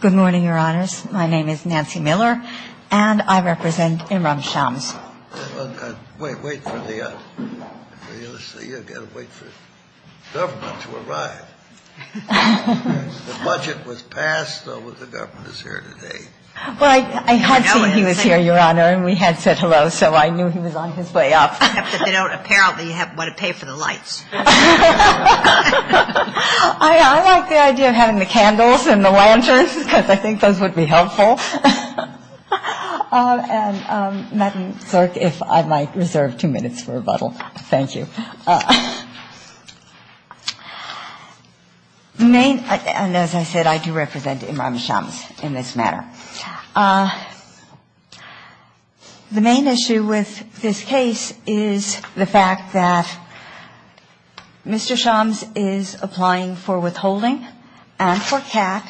Good morning, Your Honors. My name is Nancy Miller, and I represent Imran Shams. Wait, wait for the USC. You've got to wait for the government to arrive. The budget was passed, so the government is here today. Well, I had seen he was here, Your Honor, and we had said hello, so I knew he was on his way up. But they don't apparently want to pay for the lights. I like the idea of having the candles and the lanterns, because I think those would be helpful. And, Madam Clerk, if I might reserve two minutes for rebuttal. Thank you. And as I said, I do represent Imran Shams in this manner. The main issue with this case is the fact that Mr. Shams is applying for withholding and for cap,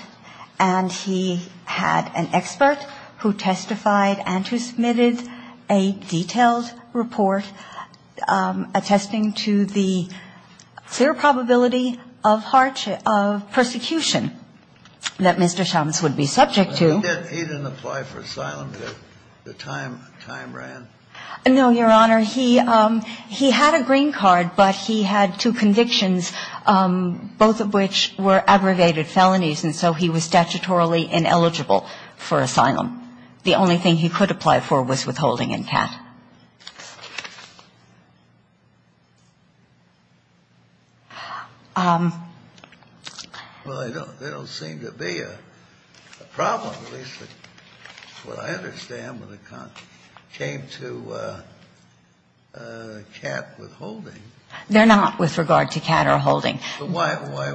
and he had an expert who testified and who submitted a detailed report attesting to the clear probability of persecution that Mr. Shams would be subject to. Did he even apply for asylum at the time Imran? No, Your Honor. He had a green card, but he had two convictions, both of which were aggravated felonies, and so he was statutorily ineligible for asylum. The only thing he could apply for was withholding and cap. Well, they don't seem to be a problem, at least what I understand when it came to cap withholding. They're not with regard to cap or withholding. But why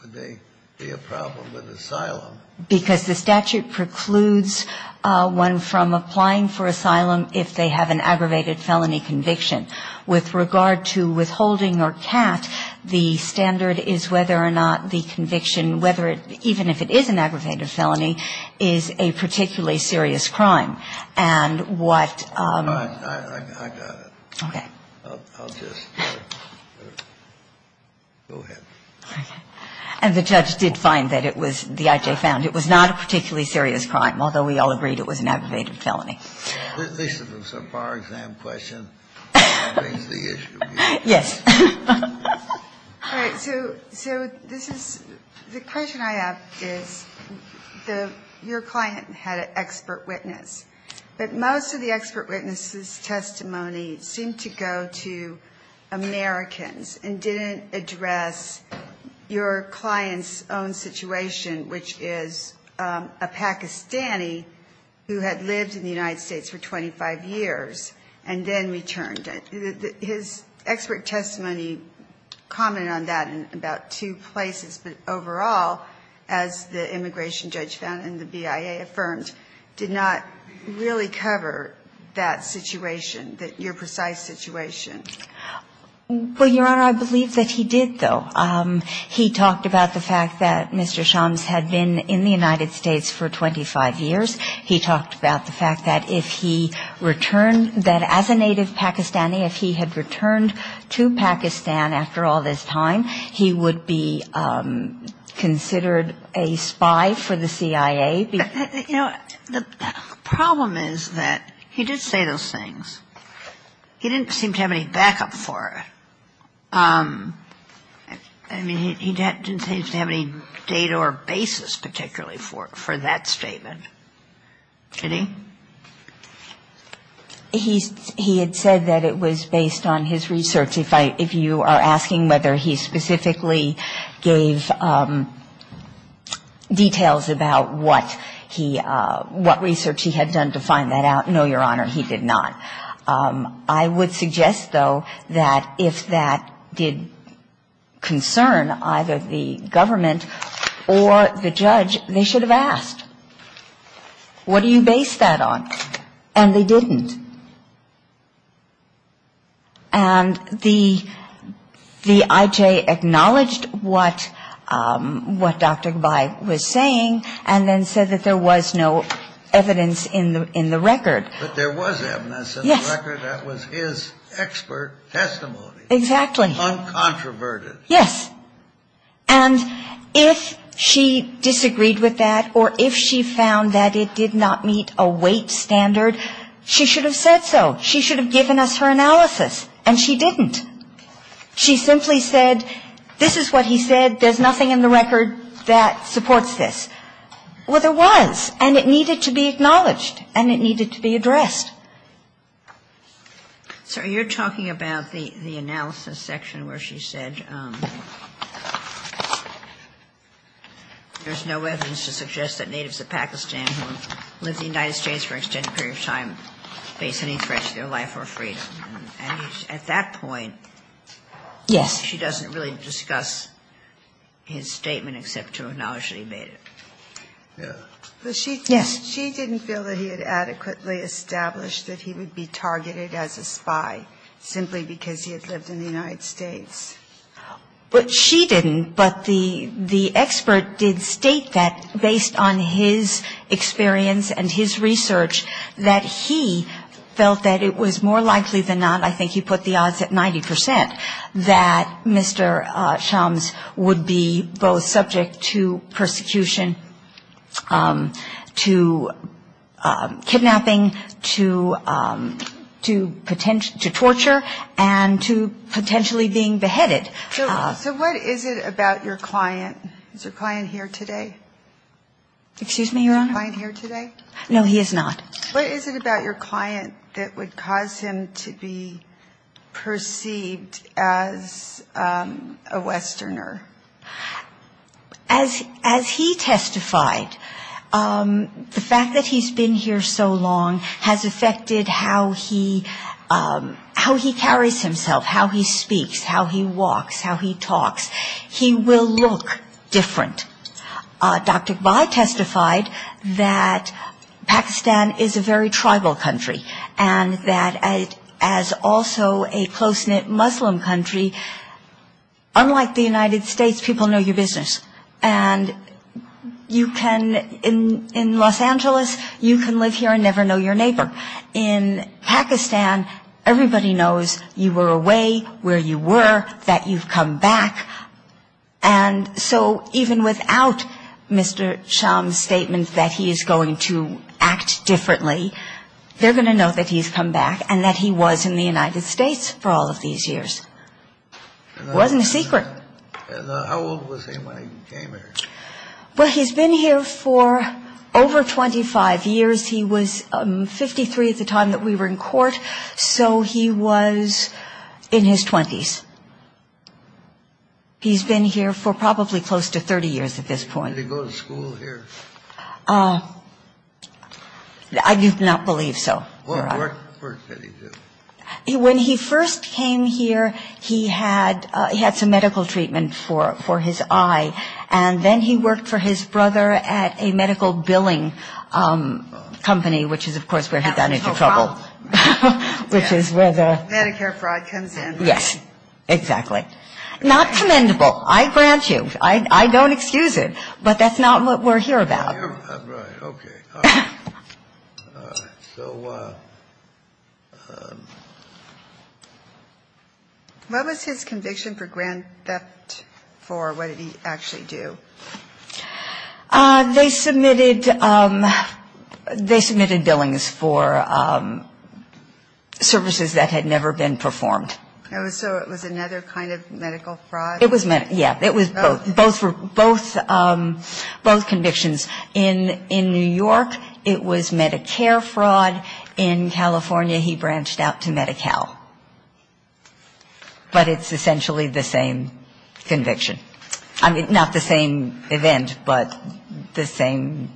would they be a problem with asylum? Because the statute precludes one from applying for asylum if they have an aggravated felony conviction. With regard to withholding or cap, the standard is whether or not the conviction, whether it – even if it is an aggravated felony, is a particularly serious crime. And what – I got it. Okay. I'll just – go ahead. Okay. And the judge did find that it was – the I.J. found it was not a particularly serious crime, although we all agreed it was an aggravated felony. This is a FAR exam question. That brings the issue. Yes. All right. So this is – the question I have is the – your client had an expert witness, but most of the expert witness's testimony seemed to go to Americans and didn't address your client's own situation, which is a Pakistani who had lived in the United States for 25 years and then returned. His expert testimony commented on that in about two places, but overall, as the immigration judge found and the BIA affirmed, did not really cover that situation, your precise situation. Well, Your Honor, I believe that he did, though. He talked about the fact that Mr. Shams had been in the United States for 25 years. He talked about the fact that if he returned – that as a native Pakistani, if he had returned to Pakistan after all this time, he would be considered a spy for the CIA. You know, the problem is that he did say those things. He didn't seem to have any backup for it. I mean, he didn't seem to have any data or basis particularly for that statement, did he? He had said that it was based on his research. If you are asking whether he specifically gave details about what he – what research he had done to find that out, no, Your Honor, he did not. I would suggest, though, that if that did concern either the government or the judge, they should have asked. What do you base that on? And they didn't. And the – the IJ acknowledged what – what Dr. Gabbai was saying and then said that there was no evidence in the record. But there was evidence in the record. Yes. That was his expert testimony. Exactly. Uncontroverted. Yes. And if she disagreed with that or if she found that it did not meet a weight standard, she should have said so. She should have given us her analysis. And she didn't. She simply said, this is what he said. There's nothing in the record that supports this. Well, there was. And it needed to be acknowledged. And it needed to be addressed. So you're talking about the analysis section where she said there's no evidence to suggest that natives of Pakistan who have lived in the United States for an extended period of time face any threat to their life or freedom. And at that point, she doesn't really discuss his statement except to acknowledge that he actually made it. Yes. But she didn't feel that he had adequately established that he would be targeted as a spy simply because he had lived in the United States. But she didn't. But the expert did state that based on his experience and his research, that he felt that it was more likely than not, I think he put the odds at 90 percent, that Mr. Shams would be both subject to persecution, to kidnapping, to torture, and to potentially being beheaded. So what is it about your client? Is your client here today? Excuse me, Your Honor? Is your client here today? No, he is not. What is it about your client that would cause him to be perceived as a Westerner? As he testified, the fact that he's been here so long has affected how he carries himself, how he speaks, how he walks, how he talks. He will look different. Dr. Ghai testified that Pakistan is a very tribal country, and that as also a close-knit Muslim country, unlike the United States, people know your business. And you can, in Los Angeles, you can live here and never know your neighbor. In Pakistan, everybody knows you were away, where you were, that you've come back. And so even without Mr. Shams' statement that he is going to act differently, they're going to know that he's come back and that he was in the United States for all of these years. It wasn't a secret. How old was he when he came here? Well, he's been here for over 25 years. He was 53 at the time that we were in court. So he was in his 20s. He's been here for probably close to 30 years at this point. Did he go to school here? I do not believe so, Your Honor. What work did he do? When he first came here, he had some medical treatment for his eye, and then he worked for his brother at a medical billing company, which is, of course, where he got into trouble. Medicare fraud comes in. Yes, exactly. Not commendable. I grant you. I don't excuse it. But that's not what we're here about. Right. Okay. All right. So what was his conviction for grand theft for? What did he actually do? They submitted billings for services that had never been performed. So it was another kind of medical fraud? Yeah. It was both. Both convictions. In New York, it was Medicare fraud. In California, he branched out to Medi-Cal. But it's essentially the same conviction. I mean, not the same event, but the same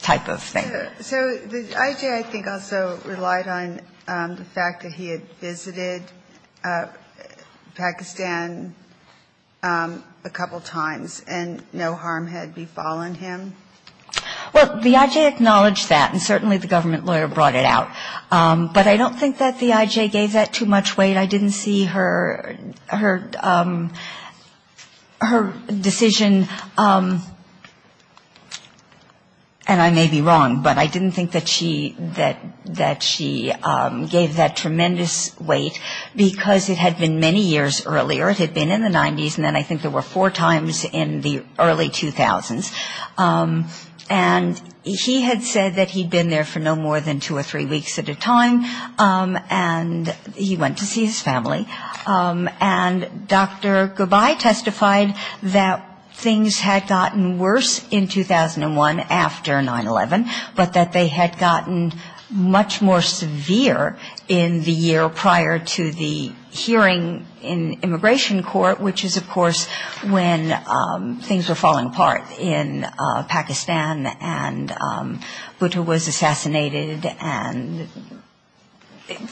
type of thing. So the I.J. I think also relied on the fact that he had visited Pakistan a couple times and no harm had befallen him. Well, the I.J. acknowledged that, and certainly the government lawyer brought it out. But I don't think that the I.J. gave that too much weight. I didn't see her decision, and I may be wrong, but I didn't think that she gave that tremendous weight, because it had been many years earlier. It had been in the 90s, and then I think there were four times in the early 2000s. And he had said that he'd been there for no more than two or three weeks at a time, and he went to see his family. And Dr. Gubay testified that things had gotten worse in 2001 after 9-11, but that they had gotten much more severe in the year prior to the hearing in immigration court, which is, of course, when things were falling apart in Pakistan, and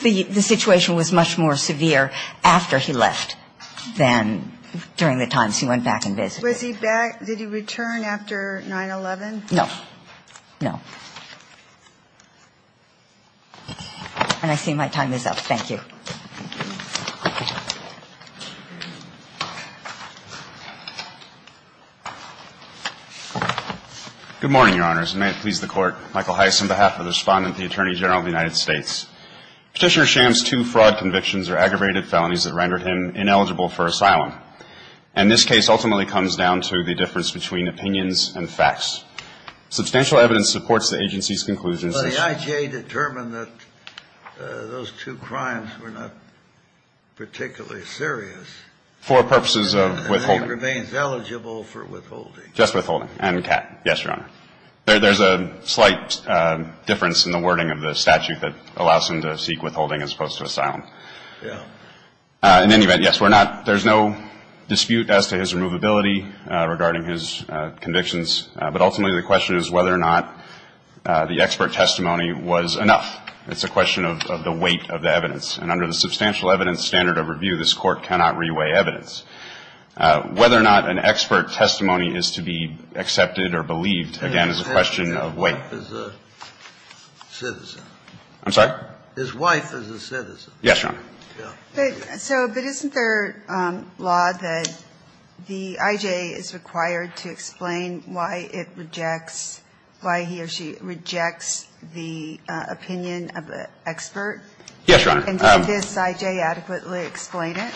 the situation was much more severe after he left than during the times he went back and visited. Was he back? Did he return after 9-11? No. No. And I see my time is up. Thank you. Good morning, Your Honors, and may it please the Court. Michael Heiss on behalf of the Respondent to the Attorney General of the United States. Petitioner Sham's two fraud convictions are aggravated felonies that rendered him ineligible for asylum. And this case ultimately comes down to the difference between opinions and facts. Substantial evidence supports the agency's conclusions. Well, the IJA determined that those two crimes were not particularly serious. For purposes of withholding. And he remains eligible for withholding. Just withholding. And cat. Yes, Your Honor. There's a slight difference in the wording of the statute that allows him to seek withholding as opposed to asylum. Yeah. In any event, yes, we're not. There's no dispute as to his removability regarding his convictions. But ultimately the question is whether or not the expert testimony was enough. It's a question of the weight of the evidence. And under the substantial evidence standard of review, this Court cannot reweigh evidence. Whether or not an expert testimony is to be accepted or believed, again, is a question of weight. His wife is a citizen. I'm sorry? His wife is a citizen. Yes, Your Honor. But isn't there law that the IJA is required to explain why it rejects, why he or she rejects the opinion of the expert? Yes, Your Honor. And does this IJA adequately explain it?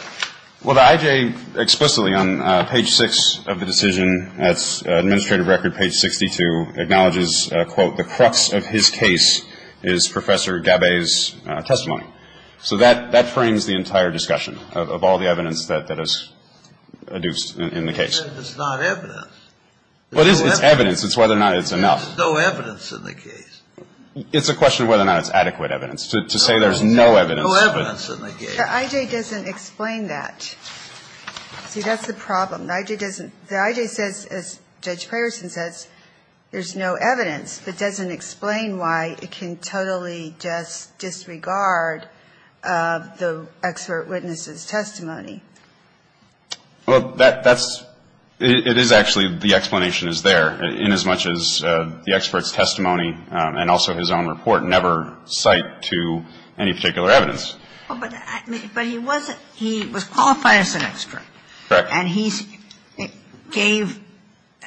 Well, the IJA explicitly on page 6 of the decision, that's administrative record page 62, acknowledges, quote, the crux of his case is Professor Gabbay's testimony. So that frames the entire discussion of all the evidence that is adduced in the case. It's not evidence. Well, it is. It's evidence. It's whether or not it's enough. There's no evidence in the case. It's a question of whether or not it's adequate evidence. To say there's no evidence. No evidence in the case. But the IJA doesn't explain that. See, that's the problem. The IJA doesn't. The IJA says, as Judge Peyerson says, there's no evidence, but doesn't explain why it can totally just disregard the expert witness's testimony. Well, that's, it is actually, the explanation is there, inasmuch as the expert's testimony and also his own report never cite to any particular evidence. But he wasn't, he was qualified as an expert. Correct. And he gave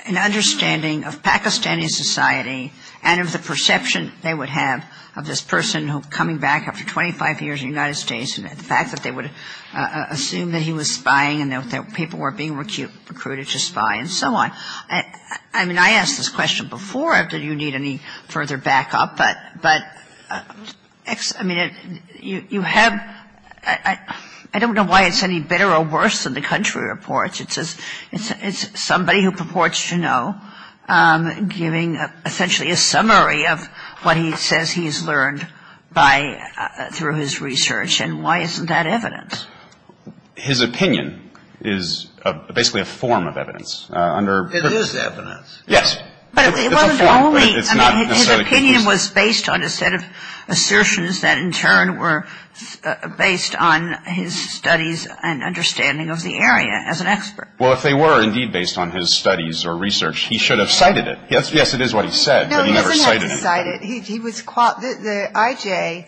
an understanding of Pakistani society and of the perception they would have of this person coming back after 25 years in the United States and the fact that they would assume that he was spying and that people were being recruited to spy and so on. I mean, I asked this question before, if you need any further backup, but, but, I mean, you have, I don't know why it's any better or worse than the country reports. It's somebody who purports to know, giving essentially a summary of what he says he's learned by, through his research. And why isn't that evidence? His opinion is basically a form of evidence. It is evidence. It's a form. I mean, his opinion was based on a set of assertions that in turn were based on his studies and understanding of the area as an expert. Well, if they were indeed based on his studies or research, he should have cited it. Yes, it is what he said, but he never cited it. No, he doesn't have to cite it. He was, the I.J.,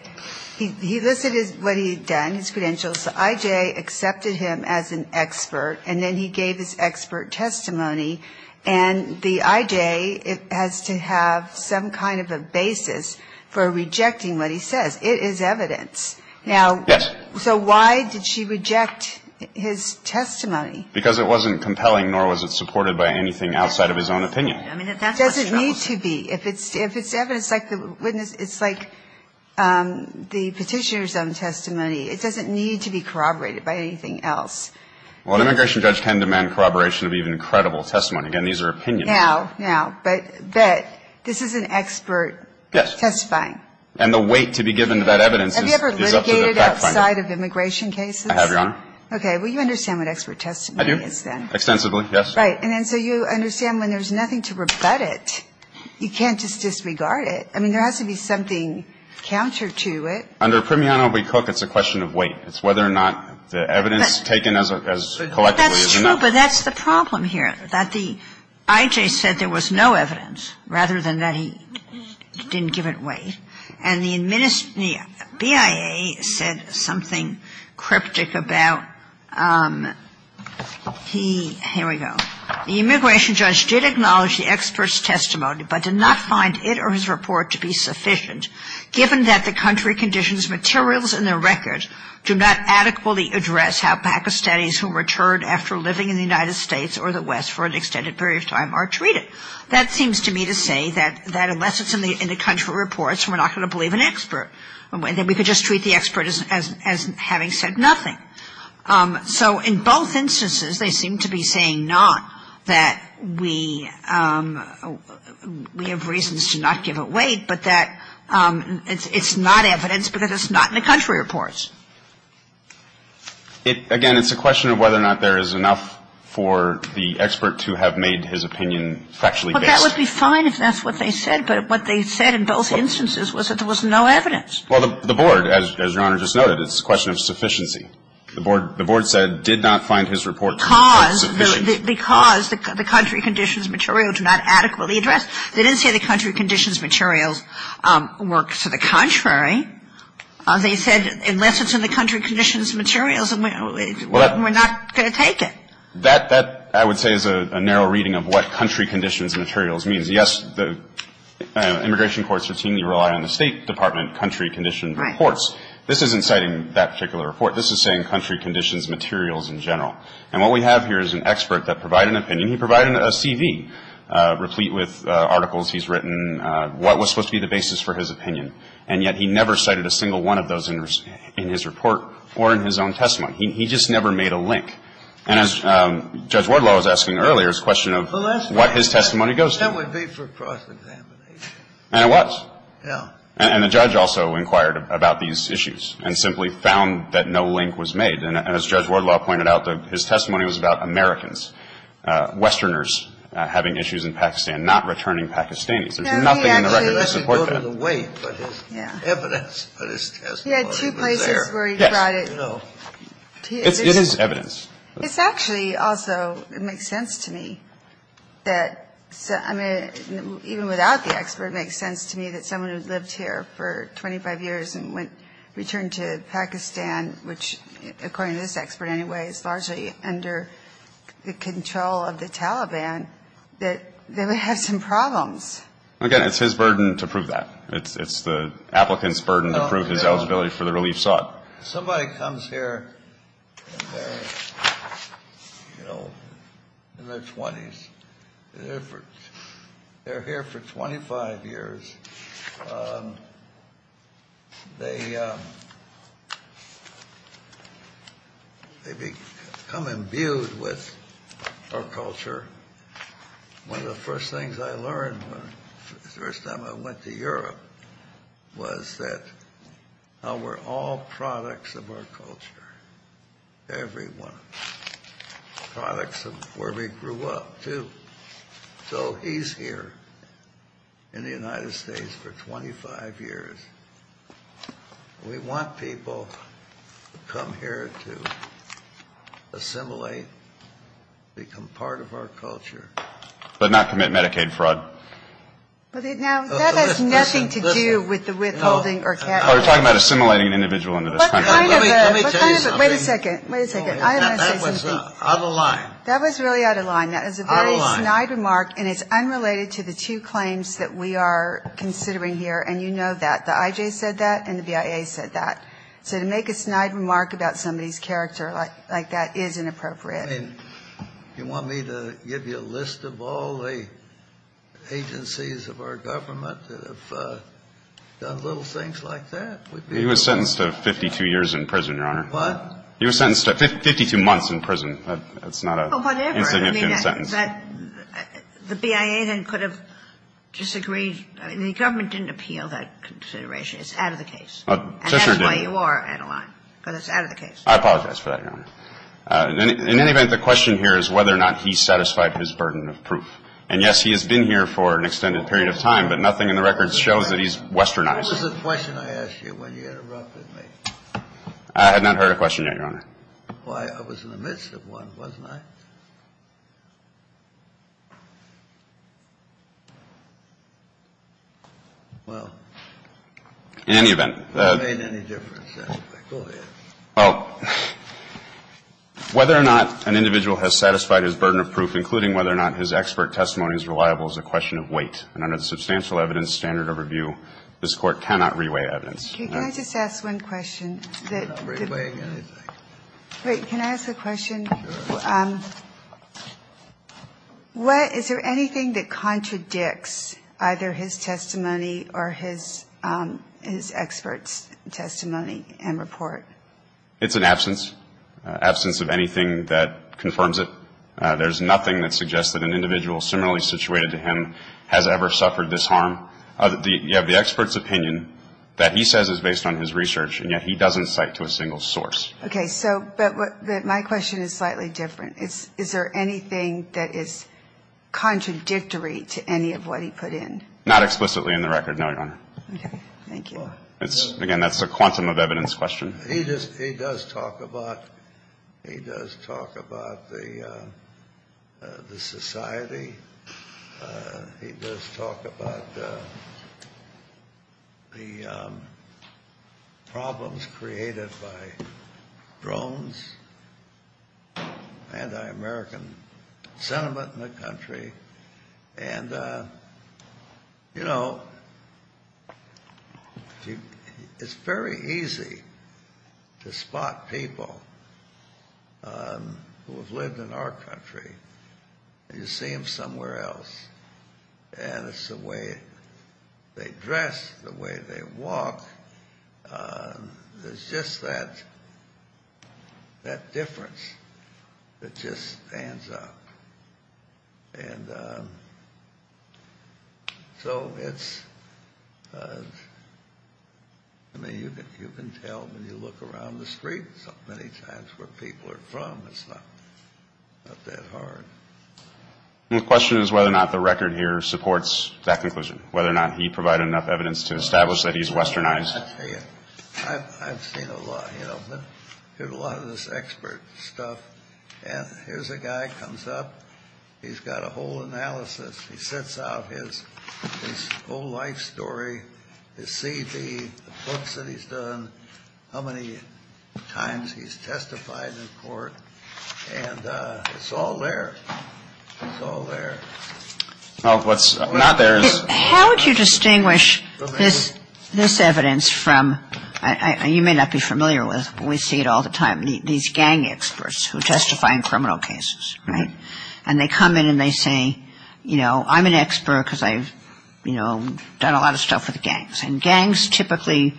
he listed what he had done, his credentials. The I.J. accepted him as an expert, and then he gave his expert testimony. And the I.J. has to have some kind of a basis for rejecting what he says. It is evidence. Yes. Now, so why did she reject his testimony? Because it wasn't compelling, nor was it supported by anything outside of his own opinion. I mean, that's what's troubling. It doesn't need to be. If it's evidence like the witness, it's like the petitioner's own testimony. It doesn't need to be corroborated by anything else. Well, an immigration judge can demand corroboration of even credible testimony. Again, these are opinions. Now, now, but this is an expert testifying. Yes. And the weight to be given to that evidence is up to the fact finder. Have you ever litigated outside of immigration cases? I have, Your Honor. Okay. Well, you understand what expert testimony is then? I do. Extensively, yes. Right. And then so you understand when there's nothing to rebut it, you can't just disregard it. I mean, there has to be something counter to it. Under Primiano v. Cook, it's a question of weight. It's whether or not the evidence taken as collectively is enough. That's true, but that's the problem here, that the IJ said there was no evidence rather than that he didn't give it weight. And the BIA said something cryptic about he, here we go. The immigration judge did acknowledge the expert's testimony but did not find it or do not adequately address how Pakistanis who returned after living in the United States or the West for an extended period of time are treated. That seems to me to say that unless it's in the country reports, we're not going to believe an expert. And then we could just treat the expert as having said nothing. So in both instances, they seem to be saying not that we have reasons to not give it weight, but that it's not evidence because it's not in the country reports. Again, it's a question of whether or not there is enough for the expert to have made his opinion factually based. But that would be fine if that's what they said. But what they said in both instances was that there was no evidence. Well, the Board, as Your Honor just noted, it's a question of sufficiency. The Board said did not find his report to be sufficient. Because the country conditions material do not adequately address. They didn't say the country conditions materials work to the contrary. They said unless it's in the country conditions materials, we're not going to take it. That I would say is a narrow reading of what country conditions materials means. Yes, the immigration courts routinely rely on the State Department country condition reports. This isn't citing that particular report. This is saying country conditions materials in general. And what we have here is an expert that provided an opinion. And he provided a CV replete with articles he's written, what was supposed to be the basis for his opinion. And yet he never cited a single one of those in his report or in his own testimony. He just never made a link. And as Judge Wardlaw was asking earlier, it's a question of what his testimony goes to. That would be for cross-examination. And it was. Yeah. And the judge also inquired about these issues and simply found that no link was made. And as Judge Wardlaw pointed out, his testimony was about Americans. Westerners having issues in Pakistan, not returning Pakistanis. There's nothing in the record to support that. No, he actually. Let me go to the weight. Yeah. Evidence of his testimony was there. He had two places where he brought it. Yes. No. It is evidence. It's actually also, it makes sense to me that, I mean, even without the expert, it makes sense to me that someone who's lived here for 25 years and went, returned to Pakistan, which, according to this expert anyway, is largely under the control of the Taliban, that they would have some problems. Again, it's his burden to prove that. It's the applicant's burden to prove his eligibility for the relief sought. Somebody comes here and they're, you know, in their 20s. They're here for 25 years. They become imbued with our culture. One of the first things I learned the first time I went to Europe was that we're all products of our culture, everyone, products of where we grew up, too. So he's here in the United States for 25 years. We want people to come here to assimilate, become part of our culture. But not commit Medicaid fraud. Now, that has nothing to do with the withholding or cash. We're talking about assimilating an individual into this country. What kind of a, what kind of a, wait a second, wait a second. That was out of line. That was really out of line. Out of line. That was a very snide remark, and it's unrelated to the two claims that we are considering here, and you know that. The I.J. said that and the BIA said that. So to make a snide remark about somebody's character like that is inappropriate. You want me to give you a list of all the agencies of our government that have done little things like that? He was sentenced to 52 years in prison, Your Honor. What? He was sentenced to 52 months in prison. That's not an insignificant sentence. Well, whatever. I mean, the BIA then could have disagreed. I mean, the government didn't appeal that consideration. It's out of the case. And that's why you are out of line, because it's out of the case. I apologize for that, Your Honor. In any event, the question here is whether or not he satisfied his burden of proof. And, yes, he has been here for an extended period of time, but nothing in the records shows that he's westernized. What was the question I asked you when you interrupted me? I had not heard a question yet, Your Honor. Well, I was in the midst of one, wasn't I? Well. In any event. It doesn't make any difference. Go ahead. Well, whether or not an individual has satisfied his burden of proof, including whether or not his expert testimony is reliable, is a question of weight. And under the substantial evidence standard of review, this Court cannot reweigh evidence. Can I just ask one question? You cannot reweigh anything. Wait. Can I ask a question? Sure. Is there anything that contradicts either his testimony or his expert's testimony and report? It's an absence. Absence of anything that confirms it. You have the expert's opinion that he says is based on his research, and yet he doesn't cite to a single source. Okay. So, but my question is slightly different. Is there anything that is contradictory to any of what he put in? Not explicitly in the record, no, Your Honor. Okay. Thank you. Again, that's a quantum of evidence question. He does talk about the society. He does talk about the problems created by drones, anti-American sentiment in the country. And, you know, it's very easy to spot people who have lived in our country, and you see them somewhere else. And it's the way they dress, the way they walk. It's just that difference that just stands out. And so it's, I mean, you can tell when you look around the streets many times where people are from. It's not that hard. The question is whether or not the record here supports that conclusion, whether or not he provided enough evidence to establish that he's westernized. I've seen a lot, you know. There's a lot of this expert stuff. And here's a guy who comes up. He's got a whole analysis. He sets out his whole life story, his CV, the books that he's done, how many times he's testified in court. And it's all there. It's all there. What's not there is... How would you distinguish this evidence from, you may not be familiar with, but we see it all the time, these gang experts who testify in criminal cases, right? And they come in and they say, you know, I'm an expert because I've, you know, done a lot of stuff with gangs. And gangs typically,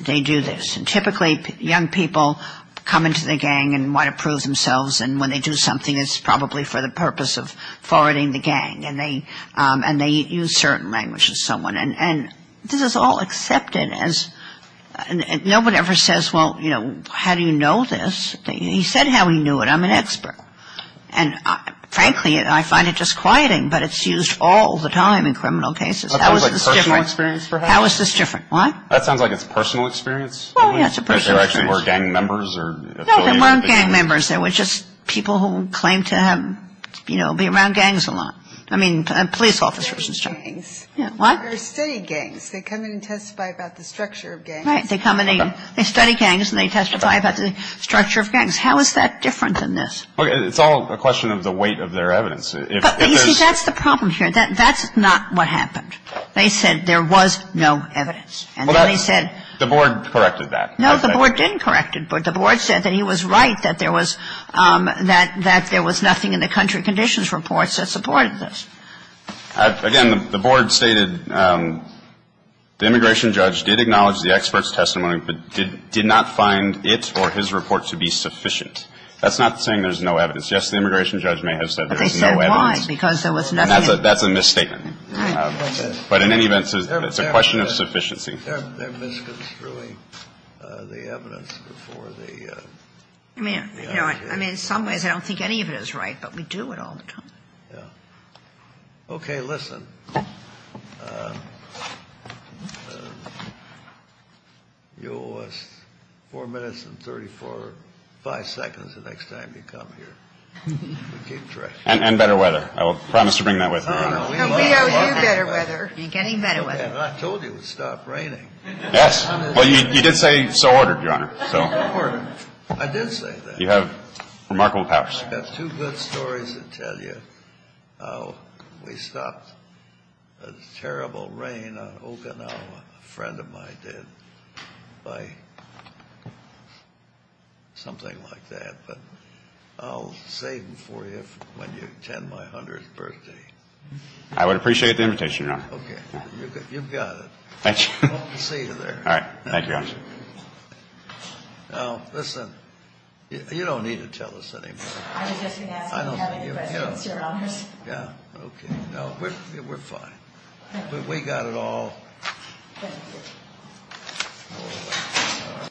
they do this. And typically young people come into the gang and want to prove themselves. And when they do something, it's probably for the purpose of forwarding the gang. And they use certain language with someone. And this is all accepted as no one ever says, well, you know, how do you know this? He said how he knew it. I'm an expert. And, frankly, I find it disquieting, but it's used all the time in criminal cases. How is this different? How is this different? Why? That sounds like it's personal experience. Well, yeah, it's a personal experience. They were actually gang members or affiliated with the gang. No, they weren't gang members. They were just people who claimed to have, you know, be around gangs a lot. I mean, police officers and stuff. They study gangs. What? They study gangs. They come in and testify about the structure of gangs. Right. They come in and they study gangs and they testify about the structure of gangs. How is that different than this? It's all a question of the weight of their evidence. You see, that's the problem here. That's not what happened. They said there was no evidence. And then they said the board corrected that. No, the board didn't correct it. The board said that he was right, that there was nothing in the country conditions reports that supported this. Again, the board stated the immigration judge did acknowledge the expert's testimony but did not find it or his report to be sufficient. That's not saying there's no evidence. Yes, the immigration judge may have said there was no evidence. But they said why, because there was nothing. That's a misstatement. Right. But in any event, it's a question of sufficiency. They're misconstruing the evidence before the FDA. I mean, in some ways I don't think any of it is right, but we do it all the time. Yeah. Okay, listen. You owe us 4 minutes and 34, 5 seconds the next time you come here. And better weather. I will promise to bring that with me. No, we owe you better weather. You're getting better weather. I told you it would stop raining. Yes. Well, you did say so ordered, Your Honor. So ordered. I did say that. You have remarkable powers. I've got two good stories to tell you. We stopped a terrible rain on Okinawa, a friend of mine did, by something like that. But I'll save them for you when you attend my 100th birthday. I would appreciate the invitation, Your Honor. Okay. You've got it. Thank you. Hope to see you there. All right. Thank you, Your Honor. Now, listen. You don't need to tell us anymore. I was just going to ask if you have any questions, Your Honor. Yeah. Okay. No, we're fine. We got it all. Thank you. All right.